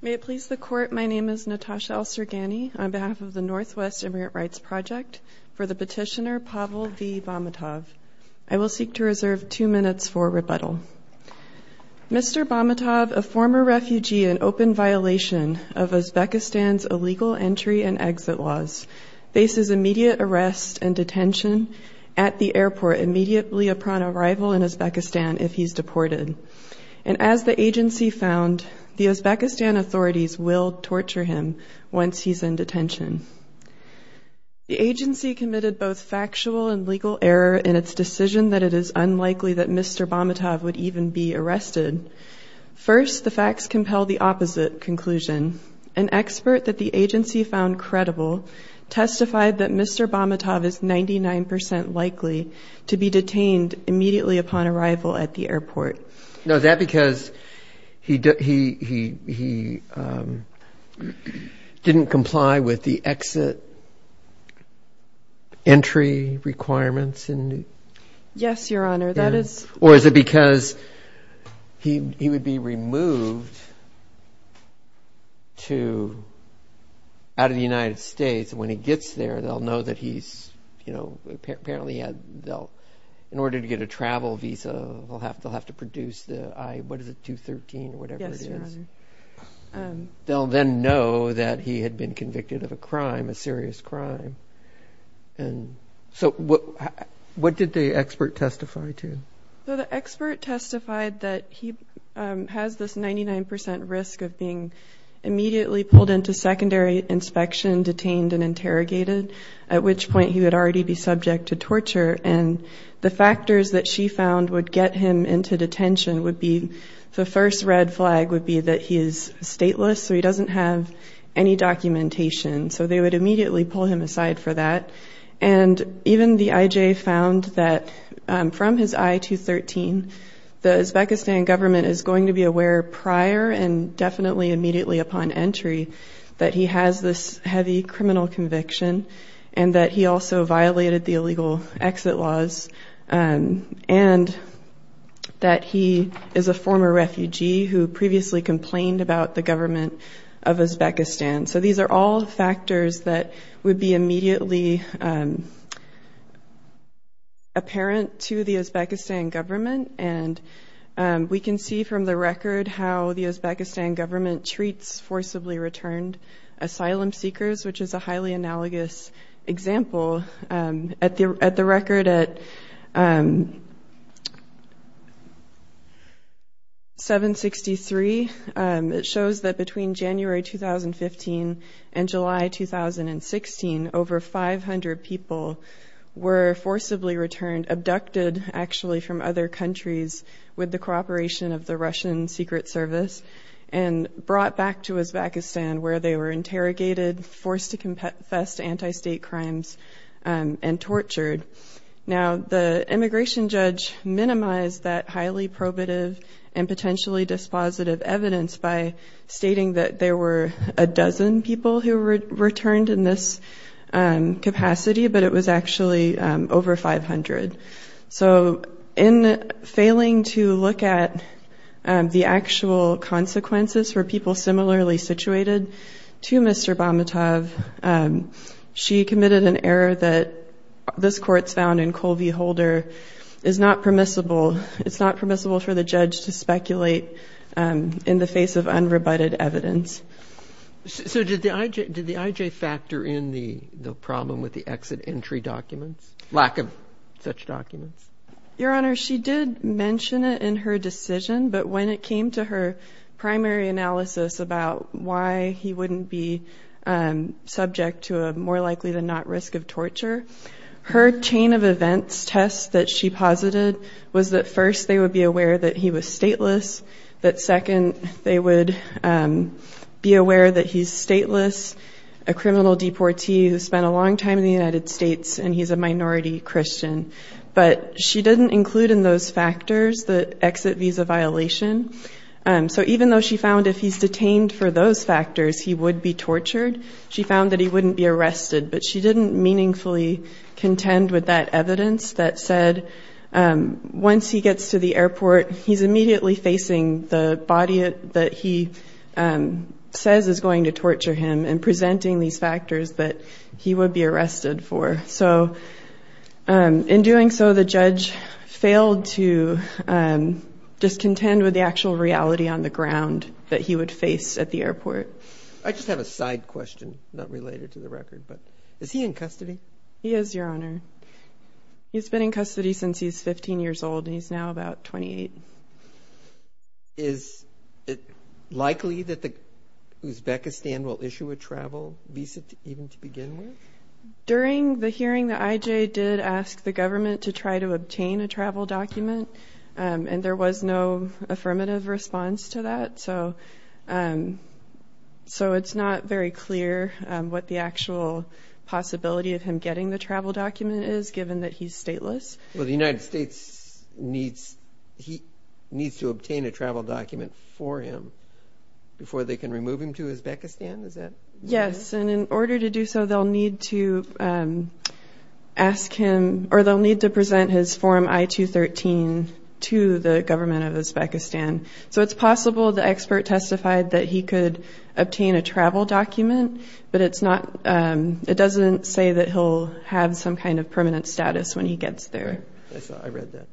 May it please the court, my name is Natasha El-Sergany on behalf of the Northwest Immigrant Rights Project for the petitioner Pavel V. Bahmatov. I will seek to reserve two minutes for rebuttal. Mr. Bahmatov, a former refugee in open violation of Uzbekistan's illegal entry and exit laws, faces immediate arrest and detention at the airport immediately upon arrival in Uzbekistan if he's deported. And as the agency found, the Uzbekistan authorities will torture him once he's in detention. The agency committed both factual and legal error in its decision that it is unlikely that Mr. Bahmatov would even be arrested. First, the agency found credible, testified that Mr. Bahmatov is 99% likely to be detained immediately upon arrival at the airport. Now, is that because he didn't comply with the exit entry requirements? Yes, your honor. Or is it because he would be removed out of the United States when he gets there, they'll know that he's, you know, apparently in order to get a travel visa, they'll have to produce the, what is it, 213 or whatever it is. They'll then know that he had been convicted of a crime, a serious crime. And so what did the expert testify to? The expert testified that he has this 99% risk of being immediately pulled into secondary inspection, detained, and interrogated, at which point he would already be subject to torture. And the factors that she found would get him into detention would be, the first red flag would be that he is stateless, so he doesn't have any documentation. So they would immediately pull him aside for that. And even the IJ found that from his I-213, the Uzbekistan government is going to be aware prior and definitely immediately upon entry that he has this heavy criminal conviction and that he also violated the illegal exit laws. And that he is a former refugee who previously complained about the government of Uzbekistan. So these are all factors that would be immediately apparent to the Uzbekistan government. And we can see from the record how the Uzbekistan government treats forcibly returned asylum seekers, which is a highly analogous example. At the record at 763, it shows that between January 2015 and July 2016, over 500 people were forcibly returned, abducted actually from other countries with the cooperation of the Russian Secret Service, and brought back to Uzbekistan where they were interrogated, forced to confess to anti-state crimes, and tortured. Now the immigration judge minimized that highly probative and potentially dispositive evidence by stating that there were a dozen people who returned in this capacity, but it was actually over 500. So in failing to look at the actual consequences for people similarly situated to Mr. Bamatov, she committed an error that this court's found in Colvie-Holder is not permissible. It's not permissible for the judge to speculate in the face of unrebutted evidence. So did the IJ factor in the problem with the exit entry documents? Lack of such documents. Your Honor, she did mention it in her decision, but when it came to her primary analysis about why he wouldn't be subject to a more likely than not risk of torture, her chain of events test that she posited was that first they would be aware that he was stateless, that second they would be aware that he's stateless, a criminal deportee who spent a long time in the United States, and he's a she didn't include in those factors the exit visa violation. So even though she found if he's detained for those factors, he would be tortured, she found that he wouldn't be arrested, but she didn't meaningfully contend with that evidence that said once he gets to the airport, he's immediately facing the body that he says is going to torture him and presenting these factors that he would be arrested for. So in doing so, the judge failed to just contend with the actual reality on the ground that he would face at the airport. I just have a side question, not related to the record, but is he in custody? He is, Your Honor. He's been in custody since he's 15 years old, and he's now about 28. Is it likely that Uzbekistan will issue a travel visa even to begin with? During the hearing, the IJ did ask the government to try to obtain a travel document, and there was no affirmative response to that. So it's not very clear what the actual possibility of him getting the travel document is, given that he's stateless. Well, the United States needs to obtain a travel document for him before they can remove him to Uzbekistan, is it? Yes, and in order to do so, they'll need to ask him, or they'll need to present his Form I-213 to the government of Uzbekistan. So it's possible the expert testified that he could obtain a travel document, but it's not, it doesn't say that he'll have some kind of permanent status when he gets there. I read that.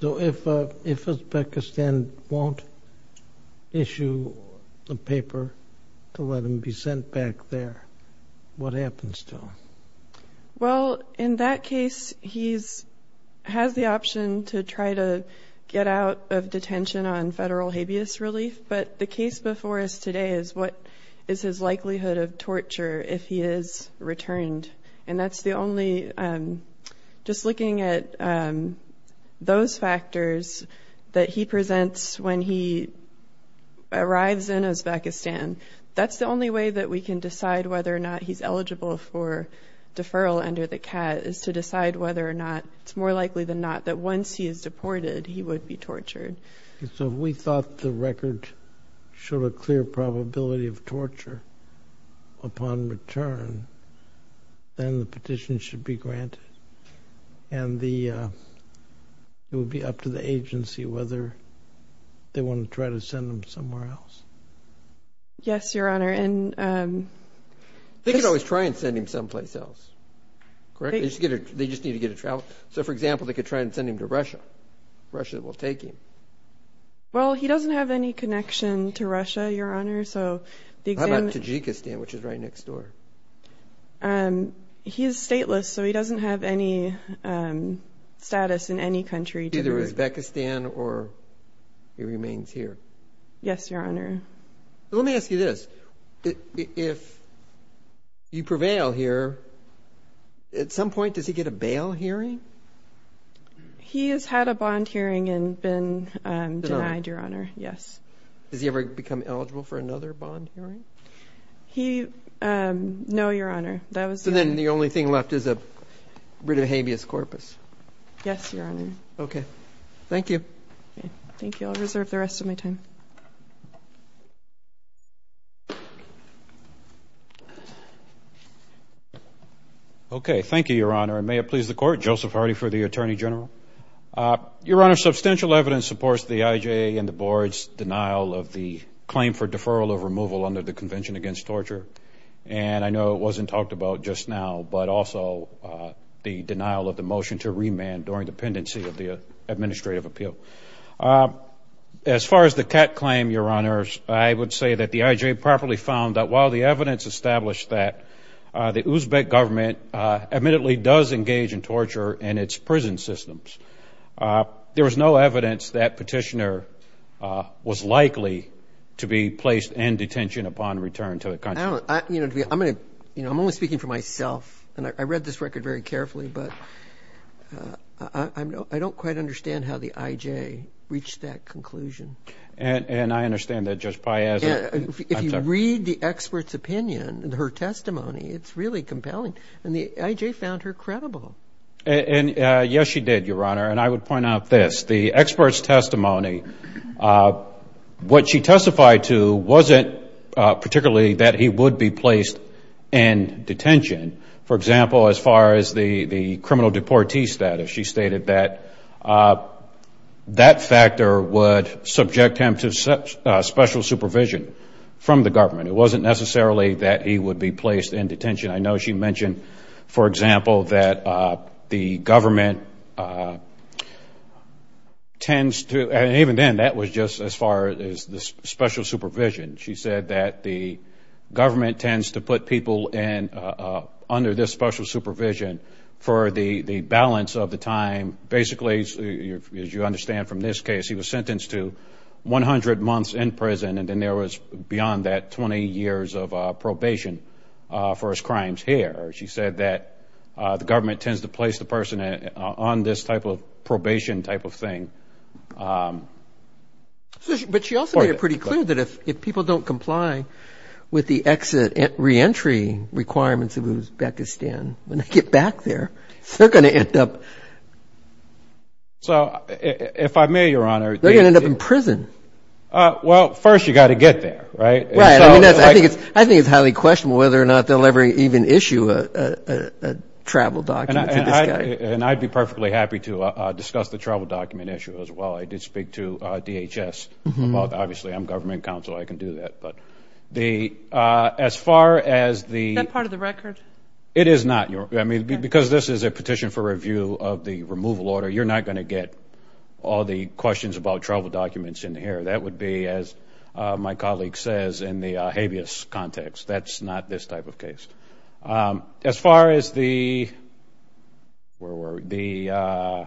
So if Uzbekistan won't issue a paper to let him be sent back there, what happens to him? Well, in that case, he has the option to try to get out of detention on federal habeas relief, but the case before us today is what is his likelihood of torture if he is returned, and that's the only, just looking at those factors that he presents when he arrives in Uzbekistan, that's the only way that we can decide whether or not he's eligible for deferral under the CAT, is to decide whether or not, it's more likely than not, that once he is deported, he would be tortured. So if we thought the record showed a clear probability of torture upon return, then the petition should be granted, and it would be up to the agency whether they want to try to send him somewhere else. Yes, Your Honor, and... They could always try and send him someplace else, correct? They just need to get a travel... So, for example, they could try and send him to Russia. Russia will take him. Well, he doesn't have any connection to Russia, Your Honor, so... How about Tajikistan, which is right next door? He is stateless, so he doesn't have any status in any country. Either Uzbekistan or he remains here. Yes, Your Honor. Let me ask you this. If you prevail here, at some point, does he get a bail hearing? He has had a bond hearing and been denied, Your Honor, yes. Has he ever become eligible for another bond hearing? He... No, Your Honor, that was... So then the only thing left is a writ of habeas corpus? Yes, Your Honor. Okay, thank you. Thank you, I'll reserve the rest of my time. Okay, thank you, Your Honor, and may it please the Court, Joseph Hardy for the Attorney General. Your Honor, substantial evidence supports the IJA and the Board's denial of the claim for deferral of removal under the Convention Against Torture. And I know it wasn't talked about just now, but also the denial of the motion to remand during the pendency of the administrative appeal. As far as the cat claim, Your Honors, I would say that the IJA properly found that while the evidence established that the Uzbek government admittedly does engage in torture in its prison systems, there was no evidence that petitioner was likely to be placed in detention upon return to the country. I'm only speaking for myself, and I read this record very carefully, but I don't quite understand how the IJA reached that conclusion. And I understand that Judge Piazza... If you read the expert's opinion, her testimony, it's really compelling. And the IJA found her credible. And yes, she did, Your Honor, and I would point out this. The expert's testimony, what she testified to wasn't particularly that he would be placed in detention. For example, as far as the criminal deportee status, she stated that that factor would subject him to special supervision from the government. It wasn't necessarily that he would be placed in detention. I know she mentioned, for example, that the government tends to... And even then, that was just as far as the special supervision. She said that the government tends to put people under this special supervision for the balance of the time. Basically, as you understand from this case, he was sentenced to 100 months in prison, and then there was, beyond that, 20 years of probation for his crimes here. She said that the government tends to place the person on this type of probation type of thing. But she also made it pretty clear that if people don't comply with the exit and reentry requirements of Uzbekistan, when they get back there, they're going to end up... So if I may, Your Honor... They're going to end up in prison. Well, first, you've got to get there, right? Right. I mean, I think it's highly questionable whether or not they'll ever even issue a travel document to this guy. And I'd be perfectly happy to discuss the travel document issue as well. I did speak to DHS about... Obviously, I'm government counsel. I can do that. But as far as the... Is that part of the record? It is not, Your Honor. I mean, because this is a petition for review of the removal order, you're not going to get all the questions about travel documents in here. That would be, as my colleague says, in the habeas context. That's not this type of case. As far as the... Where were we?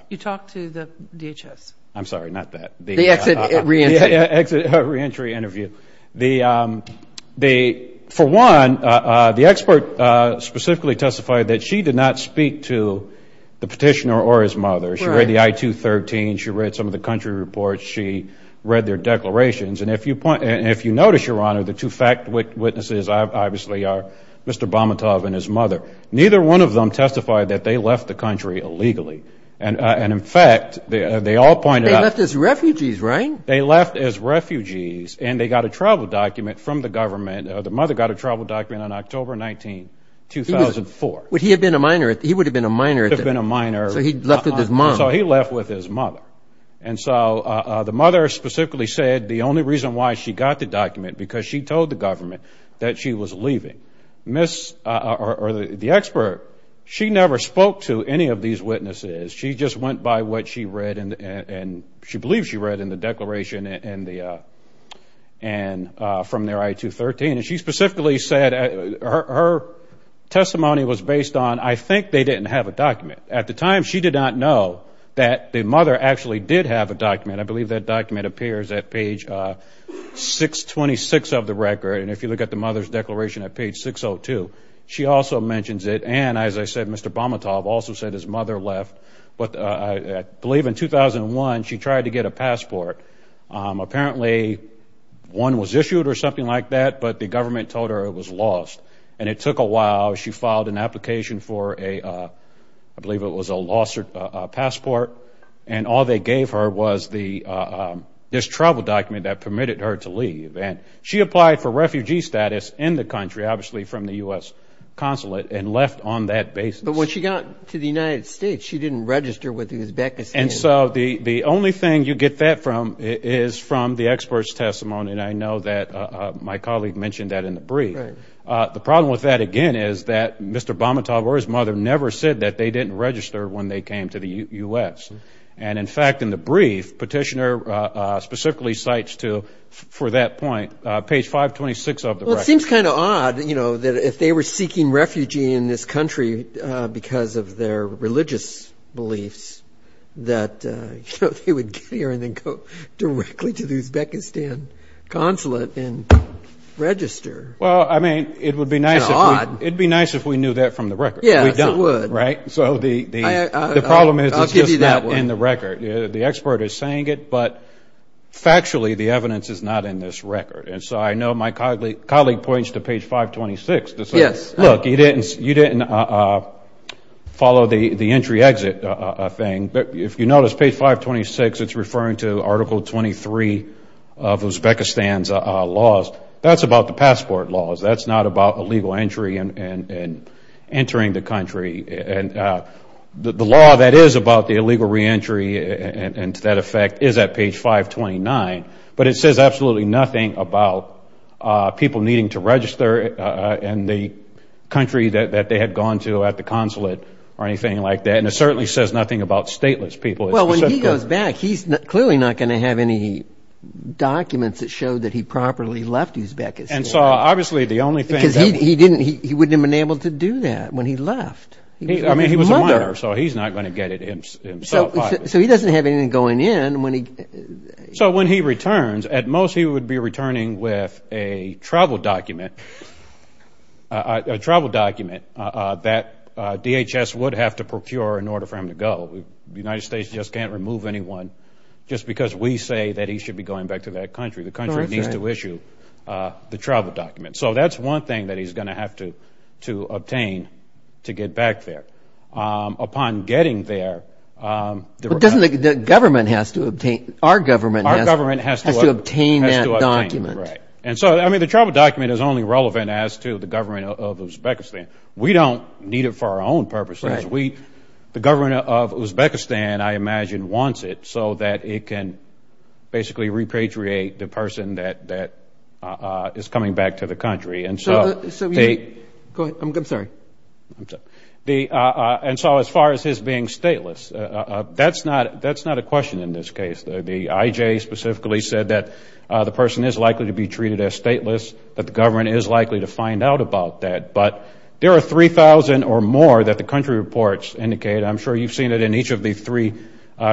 You talked to the DHS. I'm sorry, not that. The exit and reentry. Exit and reentry interview. For one, the expert specifically testified that she did not speak to the petitioner or his mother. She read the I-213. She read some of the country reports. She read their declarations. And if you notice, Your Honor, the two fact witnesses, obviously, are Mr. Bamatov and his mother. Neither one of them testified that they left the country illegally. And in fact, they all pointed out... They left as refugees, right? They left as refugees, and they got a travel document from the government. The mother got a travel document on October 19, 2004. Would he have been a minor? He would have been a minor. He would have been a minor. So he left with his mom. So he left with his mother. And so the mother specifically said the only reason why she got the document, because she told the government that she was leaving. Ms. or the expert, she never spoke to any of these witnesses. She just went by what she read and she believed she read in the declaration from their I-213. And she specifically said her testimony was based on, I think they didn't have a document. At the time, she did not know that the mother actually did have a document. I believe that document appears at page 626 of the record. And if you look at the mother's declaration at page 602, she also mentions it. And as I said, Mr. Bamatov also said his mother left. But I believe in 2001, she tried to get a passport. Apparently, one was issued or something like that, but the government told her it was lost. And it took a while. She filed an application for a, I believe it was a lost passport. And all they gave her was this travel document that permitted her to leave. And she applied for refugee status in the country, obviously from the U.S. consulate, and left on that basis. But when she got to the United States, she didn't register with Uzbekistan. And so the only thing you get that from is from the expert's testimony. And I know that my colleague mentioned that in the brief. The problem with that, again, is that Mr. Bamatov or his mother never said that they didn't register when they came to the U.S. And in fact, in the brief, Petitioner specifically cites to, for that point, page 526 of the record. Well, it seems kind of odd, you know, that if they were seeking refugee in this country because of their religious beliefs, that they would get here and then go directly to the Uzbekistan consulate and register. Well, I mean, it would be nice if we knew that from the record. Yes, it would. Right? So the problem is, it's just not in the record. The expert is saying it, but factually, the evidence is not in this record. And so I know my colleague points to page 526 to say, look, you didn't follow the entry-exit thing. But if you notice page 526, it's referring to Article 23 of Uzbekistan's laws. That's about the passport laws. That's not about illegal entry and entering the country. And the law that is about the illegal reentry and to that effect is at page 529. But it says absolutely nothing about people needing to register in the country that they had gone to at the consulate or anything like that. And it certainly says nothing about stateless people. Well, when he goes back, he's clearly not going to have any documents that show that he properly left Uzbekistan. And so, obviously, the only thing that was... Because he wouldn't have been able to do that when he left. I mean, he was a minor, so he's not going to get it himself either. So he doesn't have anything going in when he... So when he returns, at most he would be returning with a travel document that DHS would have to procure in order for him to go. The United States just can't remove anyone just because we say that he should be going back to that country. The country needs to issue the travel document. So that's one thing that he's going to have to obtain to get back there. Upon getting there... But doesn't the government has to obtain... Our government has to obtain that document. Right. And so, I mean, the travel document is only relevant as to the government of Uzbekistan. We don't need it for our own purposes. We... The government of Uzbekistan, I imagine, wants it so that it can basically repatriate the person that is coming back to the country. And so... So you... Go ahead. I'm sorry. I'm sorry. And so as far as his being stateless, that's not a question in this case. The IJ specifically said that the person is likely to be treated as stateless, that the government is likely to find out about that. But there are 3,000 or more that the country reports indicate. I'm sure you've seen it in each of the 3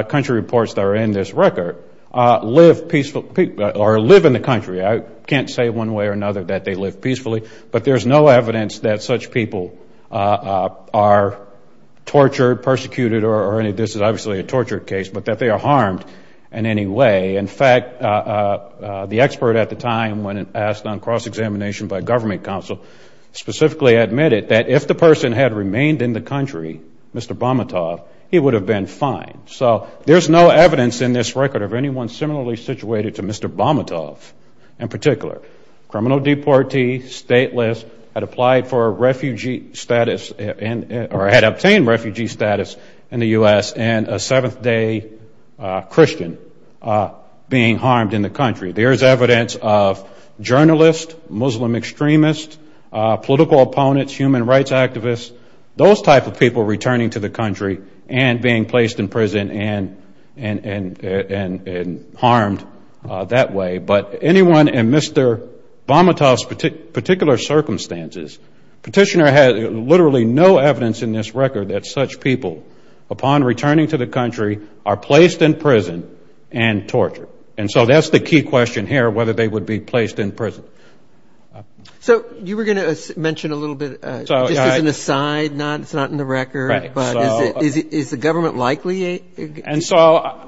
country reports that are in this record. Live peaceful... Or live in the country. I can't say one way or another that they live peacefully. But there's no evidence that such people are tortured, persecuted, or any... This is obviously a torture case, but that they are harmed in any way. In fact, the expert at the time, when asked on cross-examination by government counsel, specifically admitted that if the person had remained in the country, Mr. Bamatov, he would have been fined. So there's no evidence in this record of anyone similarly situated to Mr. Bamatov in particular. Criminal deportee, stateless, had applied for refugee status and... Or had obtained refugee status in the U.S. and a seventh-day Christian being harmed in the country. There's evidence of journalists, Muslim extremists, political opponents, human rights activists. Those type of people returning to the country and being placed in prison and harmed that way. But anyone in Mr. Bamatov's particular circumstances, petitioner has literally no evidence in this record that such people, upon returning to the country, are placed in prison and tortured. And so that's the key question here, whether they would be placed in prison. So you were going to mention a little bit, just as an aside, it's not in the record, but is the government likely to obtain a... And so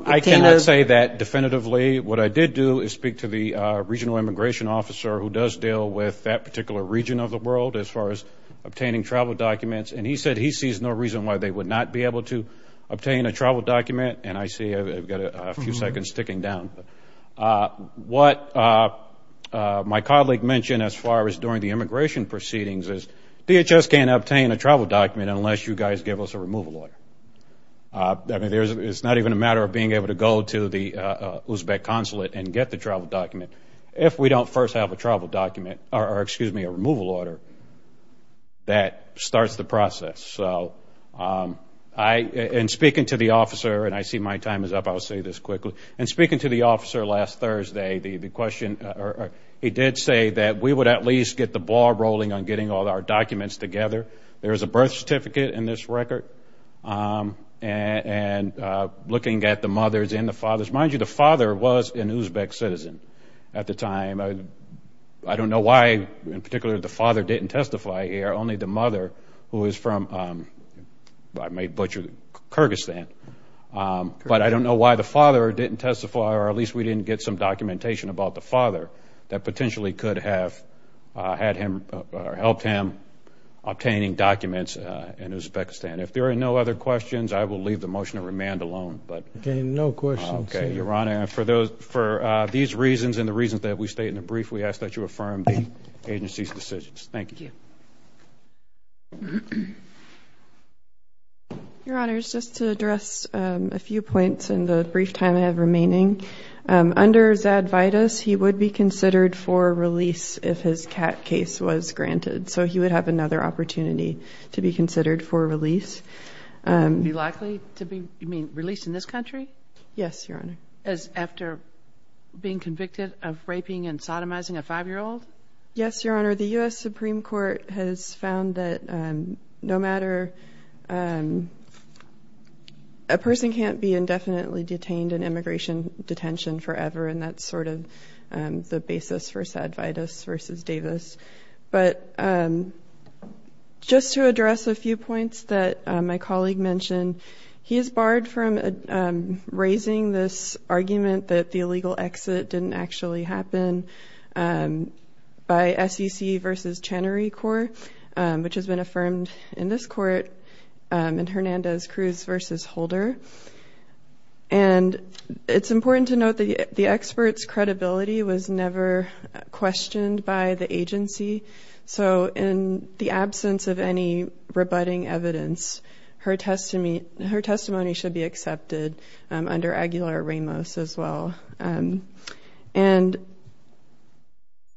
I cannot say that definitively. What I did do is speak to the regional immigration officer who does deal with that particular region of the world as far as obtaining travel documents. And he said he sees no reason why they would not be able to obtain a travel document. And I see I've got a few seconds ticking down. What my colleague mentioned as far as during the immigration proceedings is DHS can't obtain a travel document unless you guys give us a removal order. I mean, it's not even a matter of being able to go to the Uzbek consulate and get the travel document. If we don't first have a travel document or, excuse me, a removal order, that starts the process. So in speaking to the officer, and I see my time is up, I'll say this quickly. In speaking to the officer last Thursday, he did say that we would at least get the ball rolling on getting all our documents together. There is a birth certificate in this record. And looking at the mothers and the fathers, mind you, the father was an Uzbek citizen at the time. I don't know why, in particular, the father didn't testify here, only the mother, who is from, I may butcher, Kyrgyzstan. But I don't know why the father didn't testify, or at least we didn't get some documentation about the father that potentially could have helped him obtaining documents in Uzbekistan. If there are no other questions, I will leave the motion to remand alone. Okay, no questions. Okay, Your Honor, for these reasons and the reasons that we state in the brief, we ask that you affirm the agency's decisions. Thank you. Your Honor, just to address a few points in the brief time I have remaining. Under Zad Vidas, he would be considered for release if his CAT case was granted. So he would have another opportunity to be considered for release. Be likely to be, you mean, released in this country? Yes, Your Honor. As after being convicted of raping and sodomizing a five-year-old? The Supreme Court has found that no matter, a person can't be indefinitely detained in immigration detention forever. And that's sort of the basis for Zad Vidas versus Davis. But just to address a few points that my colleague mentioned. He is barred from raising this argument that the illegal exit didn't actually happen by SEC versus Chenery Court, which has been affirmed in this court in Hernandez-Cruz versus Holder. And it's important to note that the expert's credibility was never questioned by the agency. So in the absence of any rebutting evidence, her testimony should be accepted under Aguilar-Ramos as well. And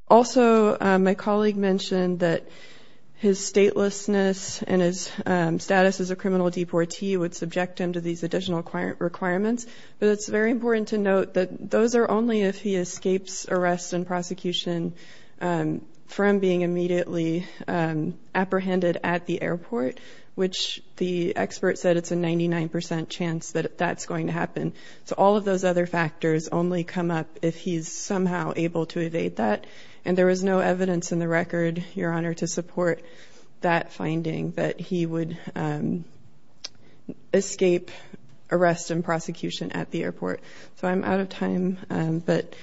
also, my colleague mentioned that his statelessness and his status as a criminal deportee would subject him to these additional requirements. But it's very important to note that those are only if he escapes arrest and prosecution from being immediately apprehended at the airport, which the expert said it's a 99% chance that that's going to happen. So all of those other factors only come up if he's somehow able to evade that. And there was no evidence in the record, Your Honor, to support that finding that he would escape arrest and prosecution at the airport. So I'm out of time, but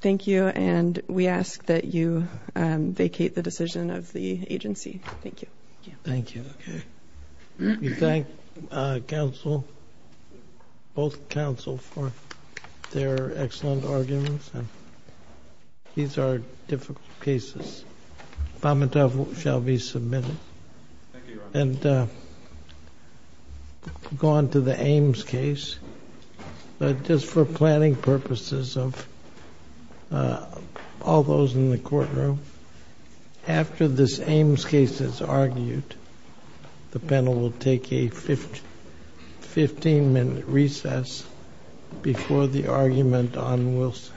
thank you, and we ask that you vacate the decision of the agency. Thank you. Thank you. Okay, we thank both counsel for their excellent arguments, and these are difficult cases. Fomentoff shall be submitted, and go on to the Ames case. But just for planning purposes of all those in the courtroom, after this Ames case is argued, the panel will take a 15-minute recess before the argument on Wilson.